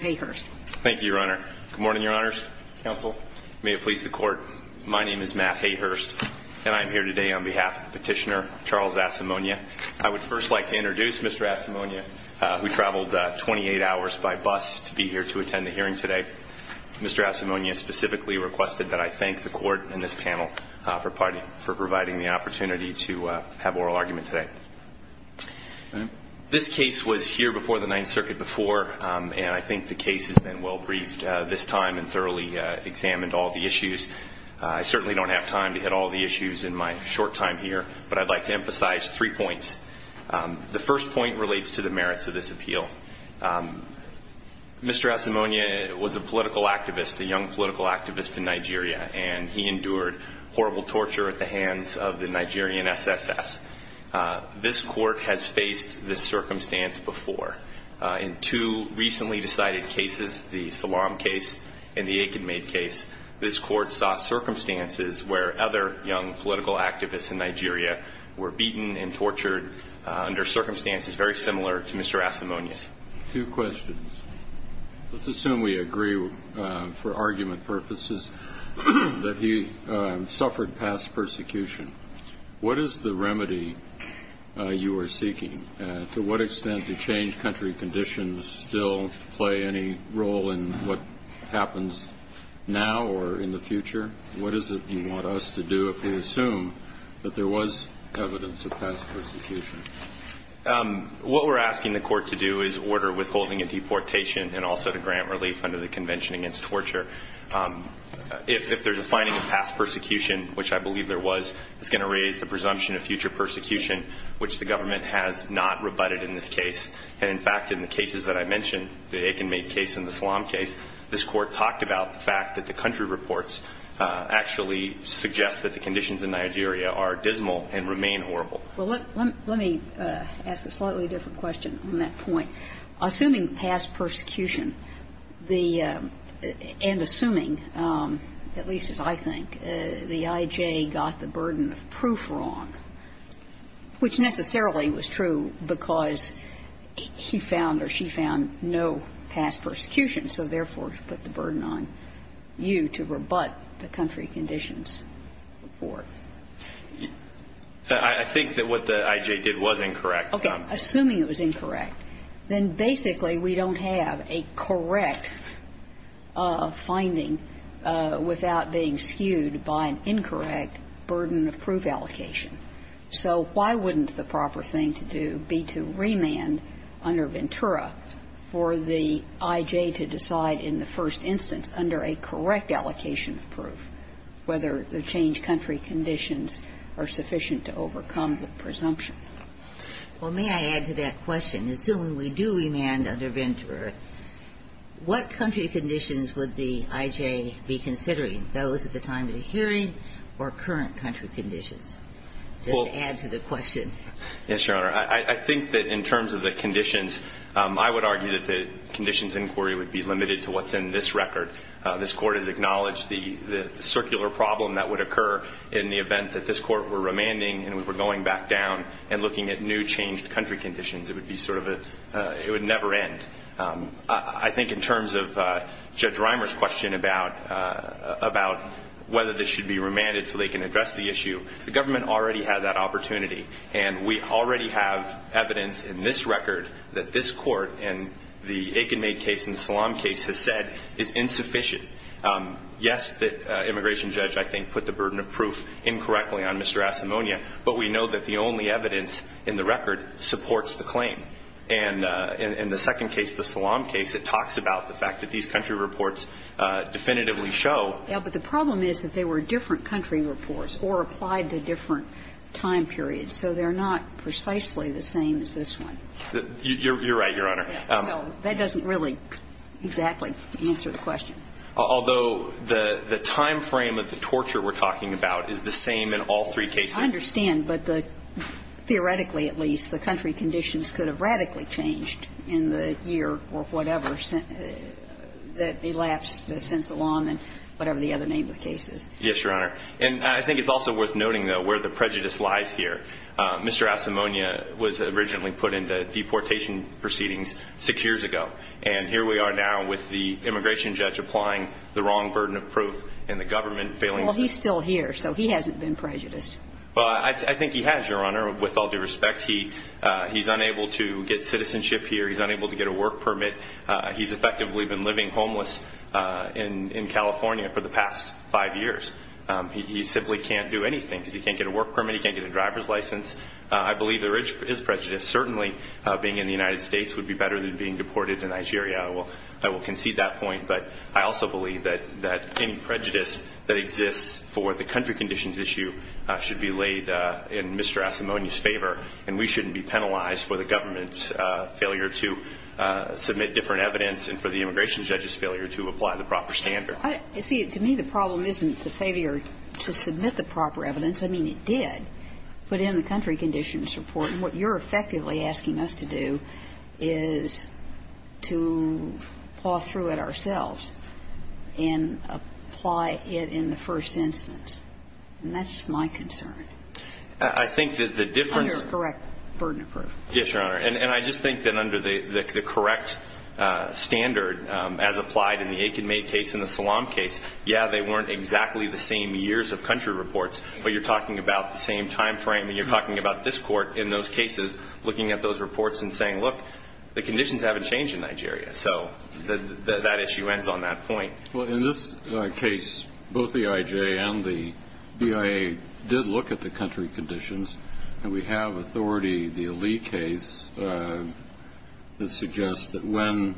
May it please the Court, my name is Matt Hayhurst, and I'm here today on behalf of Petitioner Charles Asimonye. I would first like to introduce Mr. Asimonye, who traveled 28 hours by bus to be here to attend the hearing today. Mr. Asimonye specifically requested that I thank the Court and this panel for providing the opportunity to have oral argument today. This case was here before the Ninth Circuit before, and I think the case has been well briefed this time and thoroughly examined all the issues. I certainly don't have time to hit all the issues in my short time here, but I'd like to emphasize three points. The first point relates to the merits of this appeal. Mr. Asimonye was a political activist, a young political activist in Nigeria, and he endured horrible torture at the hands of the Nigerian SSS. This Court has faced this circumstance before. In two recently decided cases, the Salam case and the Aikenmaid case, this Court saw circumstances where other young political activists in Nigeria were beaten and tortured under circumstances very similar to Mr. Asimonye's. Two questions. Let's assume we agree for argument purposes that he suffered past persecution. What is the remedy you are seeking? To what extent do changed country conditions still play any role in what happens now or in the future? What is it you want us to do if we assume that there was evidence of past persecution? What we're asking the Court to do is order withholding of deportation and also to grant relief under the Convention Against Torture. If there's a finding of past persecution, which I believe there was, it's going to raise the presumption of future persecution, which the government has not rebutted in this case. And in fact, in the cases that I mentioned, the Aikenmaid case and the Salam case, this Court talked about the fact that the country reports actually suggest that the conditions in Nigeria are dismal and remain horrible. Well, let me ask a slightly different question on that point. Assuming past persecution, the – and assuming, at least as I think, the I.J. got the burden of proof wrong, which necessarily was true because he found or she found no past persecution, so therefore he put the burden on you to rebut the country conditions report. I think that what the I.J. did was incorrect. Okay. Assuming it was incorrect, then basically we don't have a correct finding without being skewed by an incorrect burden of proof allocation. So why wouldn't the proper thing to do be to remand under Ventura for the I.J. to decide in the first instance, under a correct allocation of proof, whether the changed country conditions are sufficient to overcome the presumption? Well, may I add to that question? Assuming we do remand under Ventura, what country conditions would the I.J. be considering, those at the time of the hearing or current country conditions? Just to add to the question. Yes, Your Honor. I think that in terms of the conditions, I would argue that the conditions inquiry would be limited to what's in this record. This Court has acknowledged the circular problem that would occur in the event that this Court were remanding and we were going back down and looking at new changed country conditions. It would be sort of a – it would never end. I think in terms of Judge Reimer's question about whether this should be remanded the government already had that opportunity. And we already have evidence in this record that this Court, in the Aikenmaid case and the Salaam case, has said is insufficient. Yes, the immigration judge, I think, put the burden of proof incorrectly on Mr. Asimonia, but we know that the only evidence in the record supports the claim. And in the second case, the Salaam case, it talks about the fact that these country reports definitively show – But the problem is that they were different country reports or applied to different time periods. So they're not precisely the same as this one. You're right, Your Honor. So that doesn't really exactly answer the question. Although the timeframe of the torture we're talking about is the same in all three cases. I understand, but the – theoretically, at least, the country conditions could have radically changed in the year or whatever that elapsed since the Salaam and whatever the other name of the case is. Yes, Your Honor. And I think it's also worth noting, though, where the prejudice lies here. Mr. Asimonia was originally put into deportation proceedings six years ago, and here we are now with the immigration judge applying the wrong burden of proof and the government failing to – Well, he's still here, so he hasn't been prejudiced. Well, I think he has, Your Honor, with all due respect. He's unable to get citizenship here. He's unable to get a work permit. He's effectively been living homeless in California for the past five years. He simply can't do anything because he can't get a work permit, he can't get a driver's license. I believe there is prejudice. Certainly, being in the United States would be better than being deported to Nigeria. I will concede that point. But I also believe that any prejudice that exists for the country conditions issue should be laid in Mr. Asimonia's favor, and we shouldn't be penalized for the government's failure to submit different evidence and for the immigration judge's failure to apply the proper standard. See, to me, the problem isn't the failure to submit the proper evidence. I mean, it did put in the country conditions report. And what you're effectively asking us to do is to paw through it ourselves and apply it in the first instance. And that's my concern. I think that the difference – Under correct burden of proof. Yes, Your Honor. And I just think that under the correct standard as applied in the Aiken May case and the Salam case, yeah, they weren't exactly the same years of country reports, but you're talking about the same time frame and you're talking about this court in those cases looking at those reports and saying, look, the conditions haven't changed in Nigeria. So that issue ends on that point. Well, in this case, both the IJ and the BIA did look at the country conditions, and we have authority, the Ali case, that suggests that when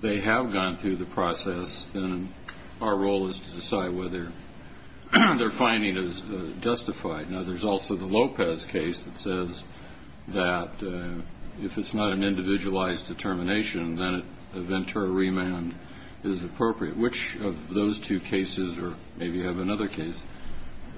they have gone through the process, then our role is to decide whether their finding is justified. Now, there's also the Lopez case that says that if it's not an individualized determination, then a Ventura remand is appropriate. Which of those two cases, or maybe you have another case,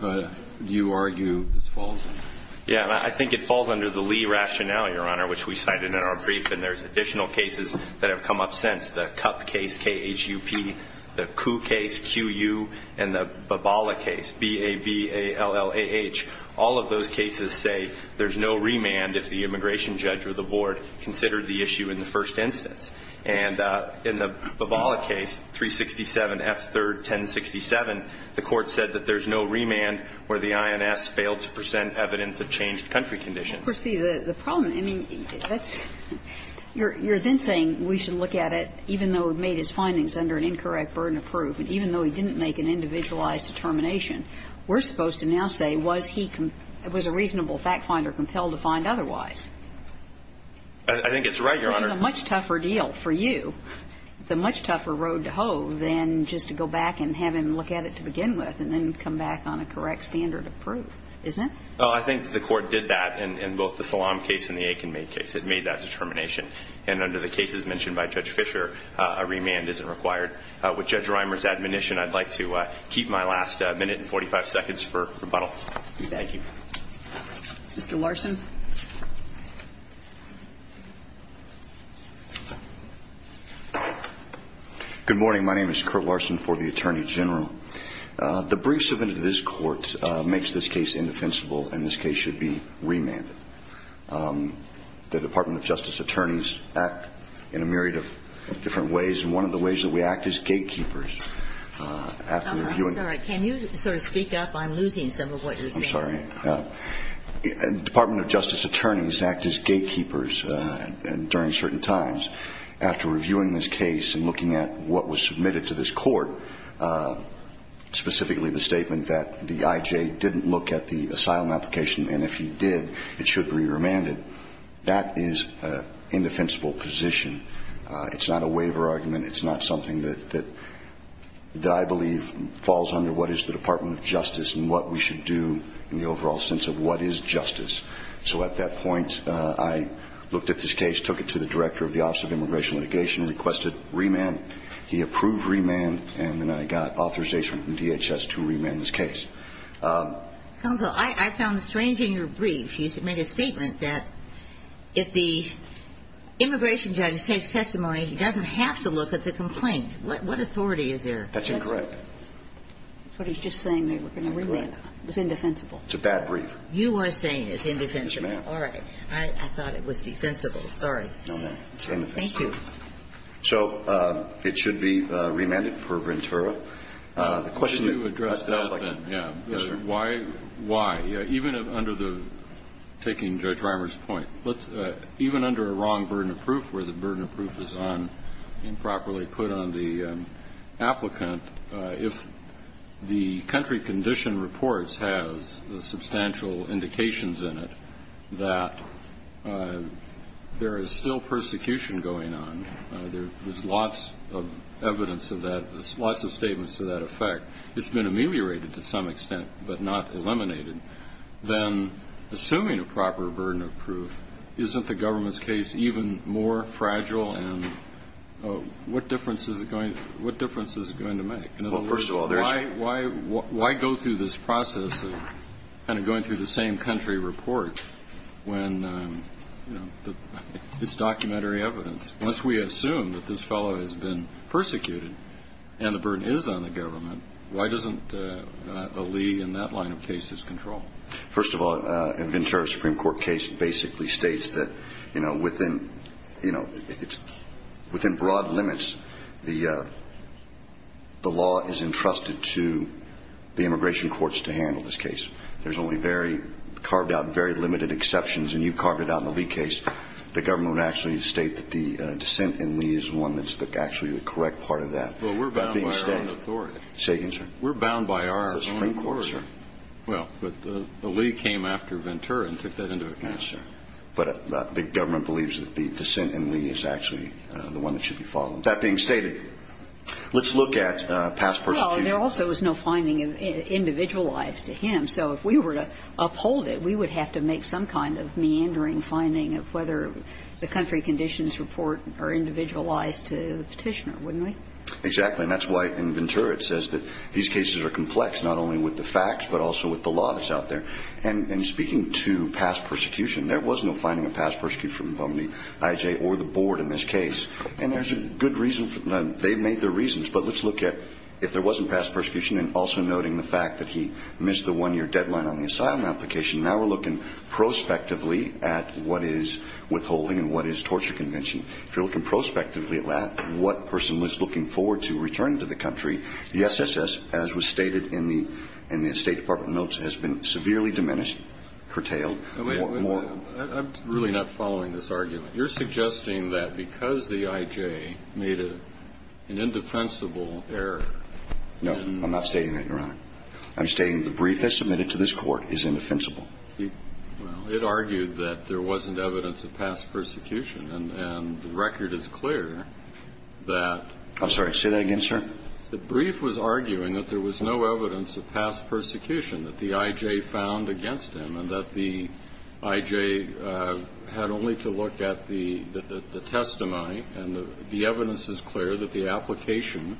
do you argue falls under? Yeah, I think it falls under the Lee rationale, Your Honor, which we cited in our brief, and there's additional cases that have come up since, the Kup case, K-H-U-P, the Kuh case, Q-U, and the Babala case, B-A-B-A-L-L-A-H. All of those cases say there's no remand if the immigration judge or the board considered the issue in the first instance. And in the Babala case, 367 F. 3rd, 1067, the Court said that there's no remand where the INS failed to present evidence of changed country conditions. Well, Percy, the problem, I mean, that's you're then saying we should look at it, even though it made his findings under an incorrect burden of proof, and even though he didn't make an individualized determination, we're supposed to now say was he, was a reasonable fact finder compelled to find otherwise? I think it's right, Your Honor. It's a much tougher deal for you. It's a much tougher road to hoe than just to go back and have him look at it to begin with and then come back on a correct standard of proof, isn't it? Well, I think the Court did that in both the Salam case and the Aiken-Maid case. It made that determination. And under the cases mentioned by Judge Fischer, a remand isn't required. With Judge Rimer's admonition, I'd like to keep my last minute and 45 seconds for rebuttal. Thank you. Mr. Larson. Good morning. My name is Curt Larson for the Attorney General. The brief submitted to this Court makes this case indefensible and this case should be remanded. The Department of Justice attorneys act in a myriad of different ways, and one of the ways that we act is gatekeepers. I'm sorry. Can you sort of speak up? I'm losing some of what you're saying. I'm sorry. The Department of Justice attorneys act as gatekeepers during certain times. After reviewing this case and looking at what was submitted to this Court, specifically the statement that the IJ didn't look at the asylum application and if he did, it should be remanded, that is an indefensible position. It's not a waiver argument. It's not something that I believe falls under what is the Department of Justice and what we should do in the overall sense of what is justice. So at that point, I looked at this case, took it to the Director of the Office of Immigration Litigation, requested remand. He approved remand, and then I got authorization from DHS to remand this case. Counsel, I found strange in your brief. You made a statement that if the immigration judge takes testimony, he doesn't have to look at the complaint. What authority is there? That's incorrect. But he's just saying they were going to remand it. It's indefensible. It's a bad brief. You are saying it's indefensible. Yes, ma'am. All right. I thought it was defensible. Sorry. No, ma'am. It's indefensible. Thank you. So it should be remanded for Ventura. The question that I would like to ask is why? Why? Even under the, taking Judge Reimer's point, even under a wrong burden of proof where the burden of proof is improperly put on the applicant, if the country condition reports have substantial indications in it that there is still persecution going on, there's lots of evidence of that, lots of statements to that effect, it's been ameliorated to some extent but not eliminated, then assuming a proper burden of proof, isn't the government's case even more fragile and what difference is it going to make? Well, first of all, there's why go through this process of kind of going through the same country report when it's documentary evidence? Once we assume that this fellow has been persecuted and the burden is on the government, why doesn't a Lee in that line of case is controlled? First of all, a Ventura Supreme Court case basically states that, you know, within, you know, within broad limits, the law is entrusted to the immigration courts to handle this case. There's only very, carved out very limited exceptions, and you carved it out in the Lee case. The government would actually state that the dissent in Lee is one that's actually the correct part of that. Well, we're bound by our own authority. Say again, sir. We're bound by our own authority. The Supreme Court, sir. Well, but the Lee came after Ventura and took that into account, sir. But the government believes that the dissent in Lee is actually the one that should be followed. That being stated, let's look at past persecution. Well, there also was no finding individualized to him. So if we were to uphold it, we would have to make some kind of meandering finding of whether the country conditions report are individualized to the Petitioner, wouldn't we? Exactly. And that's why in Ventura it says that these cases are complex, not only with the facts, but also with the law that's out there. And speaking to past persecution, there was no finding of past persecution from the IJ or the board in this case. And there's a good reason for that. They made their reasons. But let's look at if there wasn't past persecution and also noting the fact that he missed the one-year deadline on the asylum application. Now we're looking prospectively at what is withholding and what is torture convention. If you're looking prospectively at that, what person was looking forward to return to the country, the SSS, as was stated in the State Department notes, has been severely diminished, curtailed, more and more. I'm really not following this argument. You're suggesting that because the IJ made an indefensible error in the brief. No, I'm not stating that, Your Honor. I'm stating the brief that's submitted to this Court is indefensible. Well, it argued that there wasn't evidence of past persecution. And the record is clear that. I'm sorry. Say that again, sir. The brief was arguing that there was no evidence of past persecution that the IJ found against him and that the IJ had only to look at the testimony and the evidence is clear that the application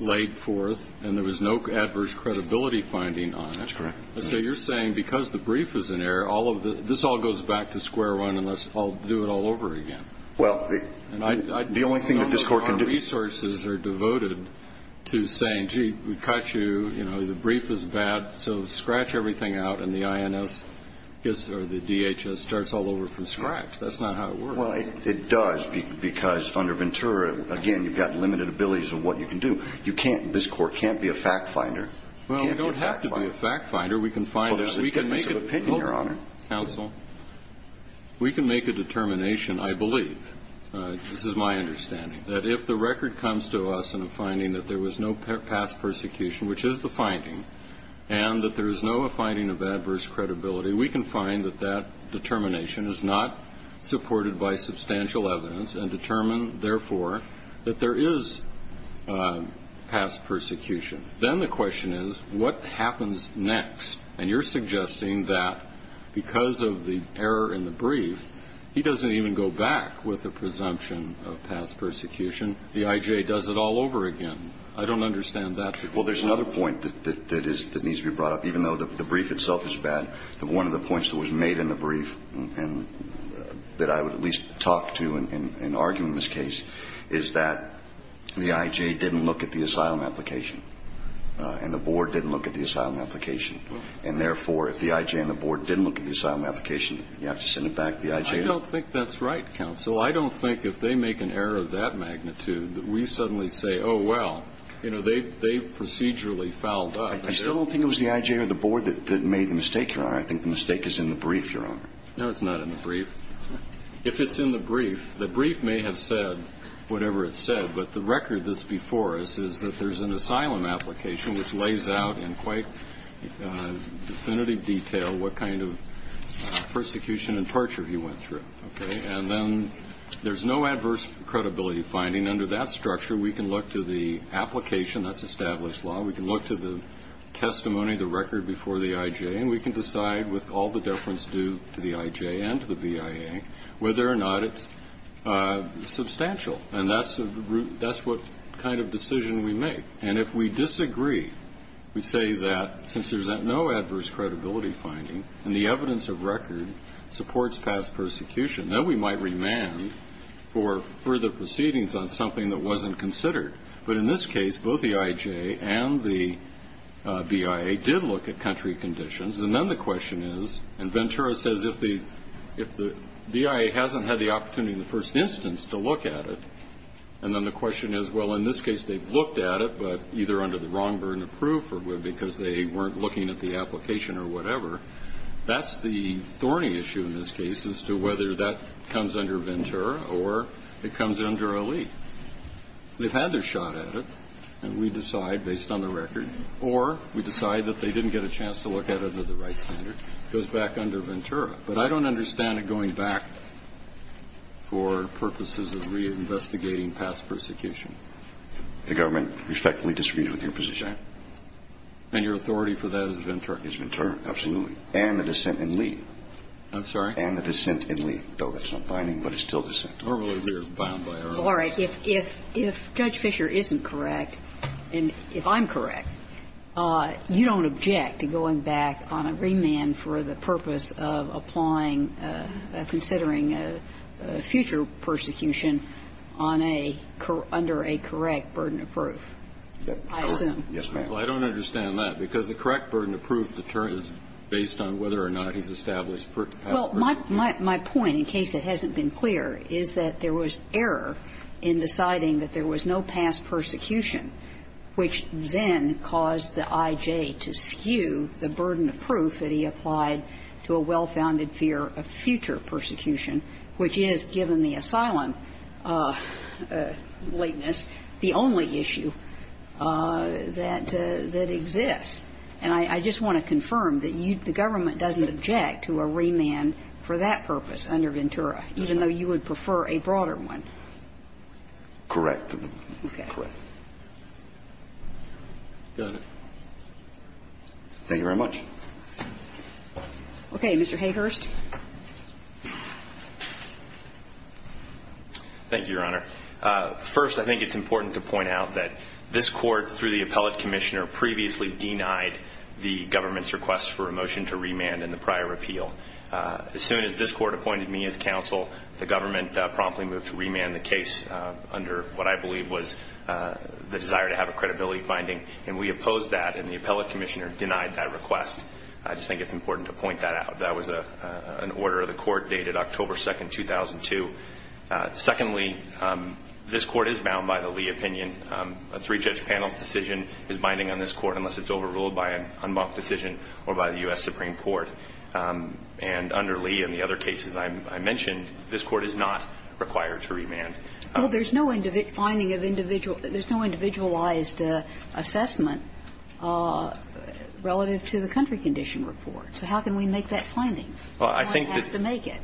laid forth and there was no adverse credibility finding on it. That's correct. And so you're saying because the brief is in error, all of the this all goes back to square one unless I'll do it all over again. Well, the only thing that this Court can do. None of our resources are devoted to saying, gee, we caught you, you know, the brief is bad, so scratch everything out and the INS or the DHS starts all over from scratch. That's not how it works. Well, it does, because under Ventura, again, you've got limited abilities of what you can do. You can't, this Court can't be a fact finder. Well, we don't have to be a fact finder. We can find there's a difference of opinion, Your Honor. Counsel, we can make a determination, I believe, this is my understanding, that if the record comes to us in a finding that there was no past persecution, which is the finding, and that there is no finding of adverse credibility, we can find that that determination is not supported by substantial evidence and determine, therefore, that there is past persecution. Then the question is, what happens next? And you're suggesting that because of the error in the brief, he doesn't even go back with a presumption of past persecution. The IJ does it all over again. I don't understand that. Well, there's another point that needs to be brought up, even though the brief itself is bad. One of the points that was made in the brief, and that I would at least talk to and argue in this case, is that the IJ didn't look at the asylum application and the board didn't look at the asylum application. And, therefore, if the IJ and the board didn't look at the asylum application, you have to send it back to the IJ? I don't think that's right, Counsel. I don't think if they make an error of that magnitude that we suddenly say, oh, well, you know, they procedurally fouled up. I still don't think it was the IJ or the board that made the mistake, Your Honor. I think the mistake is in the brief, Your Honor. No, it's not in the brief. If it's in the brief, the brief may have said whatever it said, but the record that's before us is that there's an asylum application which lays out in quite definitive detail what kind of persecution and torture he went through, okay? And then there's no adverse credibility finding. Under that structure, we can look to the application. That's established law. We can look to the testimony, the record before the IJ, and we can decide with all the deference due to the IJ and to the BIA whether or not it's substantial. And that's what kind of decision we make. And if we disagree, we say that since there's no adverse credibility finding and the evidence of record supports past persecution, then we might remand for further proceedings on something that wasn't considered. But in this case, both the IJ and the BIA did look at country conditions. And then the question is, and Ventura says, if the BIA hasn't had the opportunity in the first instance to look at it, and then the question is, well, in this case they've looked at it, but either under the wrong burden of proof or because they weren't looking at the application or whatever, that's the thorny issue in this case as to whether that comes under Ventura or it comes under Ali. They've had their shot at it, and we decide based on the record, or we decide that they didn't get a chance to look at it under the right standard. It goes back under Ventura. But I don't understand it going back for purposes of reinvestigating past persecution. The government respectfully disagrees with your position. And your authority for that is Ventura. It's Ventura, absolutely. And the dissent in Lee. I'm sorry? And the dissent in Lee, though that's not binding, but it's still dissent. Normally we are bound by our own. All right. If Judge Fischer isn't correct, and if I'm correct, you don't object to going back on a remand for the purpose of applying, considering future persecution on a under a correct burden of proof, I assume. Correct. Yes, Your Honor. Well, I don't understand that, because the correct burden of proof determines based on whether or not he's established past persecution. Well, my point, in case it hasn't been clear, is that there was error in deciding that there was no past persecution, which then caused the I.J. to skew the burden of proof that he applied to a well-founded fear of future persecution, which is, given the asylum lateness, the only issue that exists. And I just want to confirm that you, the government, doesn't object to a remand for that purpose under Ventura, even though you would prefer a broader one. Correct. Okay. Got it. Thank you very much. Okay. Mr. Hayhurst. Thank you, Your Honor. First, I think it's important to point out that this Court, through the appellate commissioner, previously denied the government's request for a motion to remand in the prior appeal. As soon as this Court appointed me as counsel, the government promptly moved to remand the case under what I believe was the desire to have a credibility finding. And we opposed that, and the appellate commissioner denied that request. I just think it's important to point that out. That was an order of the Court dated October 2, 2002. Secondly, this Court is bound by the Lee opinion. A three-judge panel's decision is binding on this Court unless it's overruled by an unmarked decision or by the U.S. Supreme Court. And under Lee and the other cases I mentioned, this Court is not required to remand. Well, there's no finding of individual – there's no individualized assessment relative to the country condition report. So how can we make that finding? Well, I think that's – One has to make it.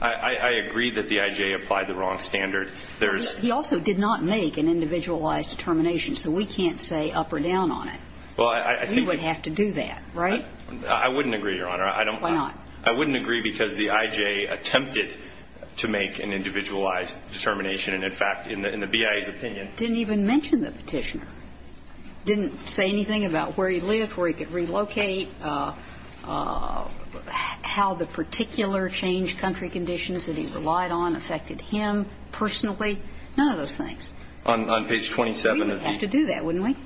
I agree that the I.J. applied the wrong standard. There's – He also did not make an individualized determination. So we can't say up or down on it. Well, I think – We would have to do that, right? I wouldn't agree, Your Honor. I don't – Why not? I wouldn't agree because the I.J. attempted to make an individualized determination. And, in fact, in the BIA's opinion – Didn't even mention the Petitioner. Didn't say anything about where he lived, where he could relocate, how the particular changed country conditions that he relied on affected him personally. None of those things. On page 27 of the – We would have to do that, wouldn't we?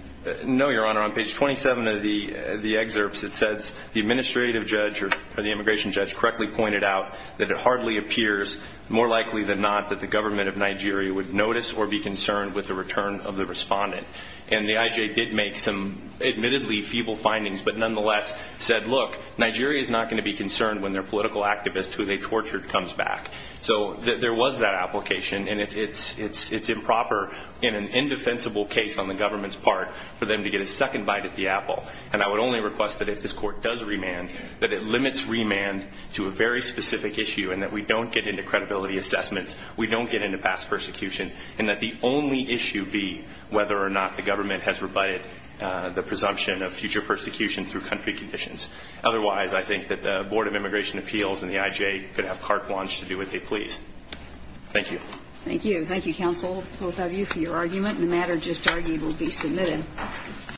No, Your Honor. On page 27 of the excerpts, it says the administrative judge or the immigration judge correctly pointed out that it hardly appears, more likely than not, that the government of Nigeria would notice or be concerned with the return of the respondent. And the I.J. did make some admittedly feeble findings, but nonetheless said, Look, Nigeria is not going to be concerned when their political activist who they tortured comes back. So there was that application, and it's improper in an indefensible case on the government's part for them to get a second bite at the apple. And I would only request that if this Court does remand, that it limits remand to a very specific issue and that we don't get into credibility assessments, we don't get into past persecution, and that the only issue be whether or not the government has rebutted the presumption of future persecution through country conditions. Otherwise, I think that the Board of Immigration Appeals and the I.J. could have carte blanche to do what they please. Thank you. Thank you. Thank you, counsel, both of you, for your argument. The matter just argued will be submitted.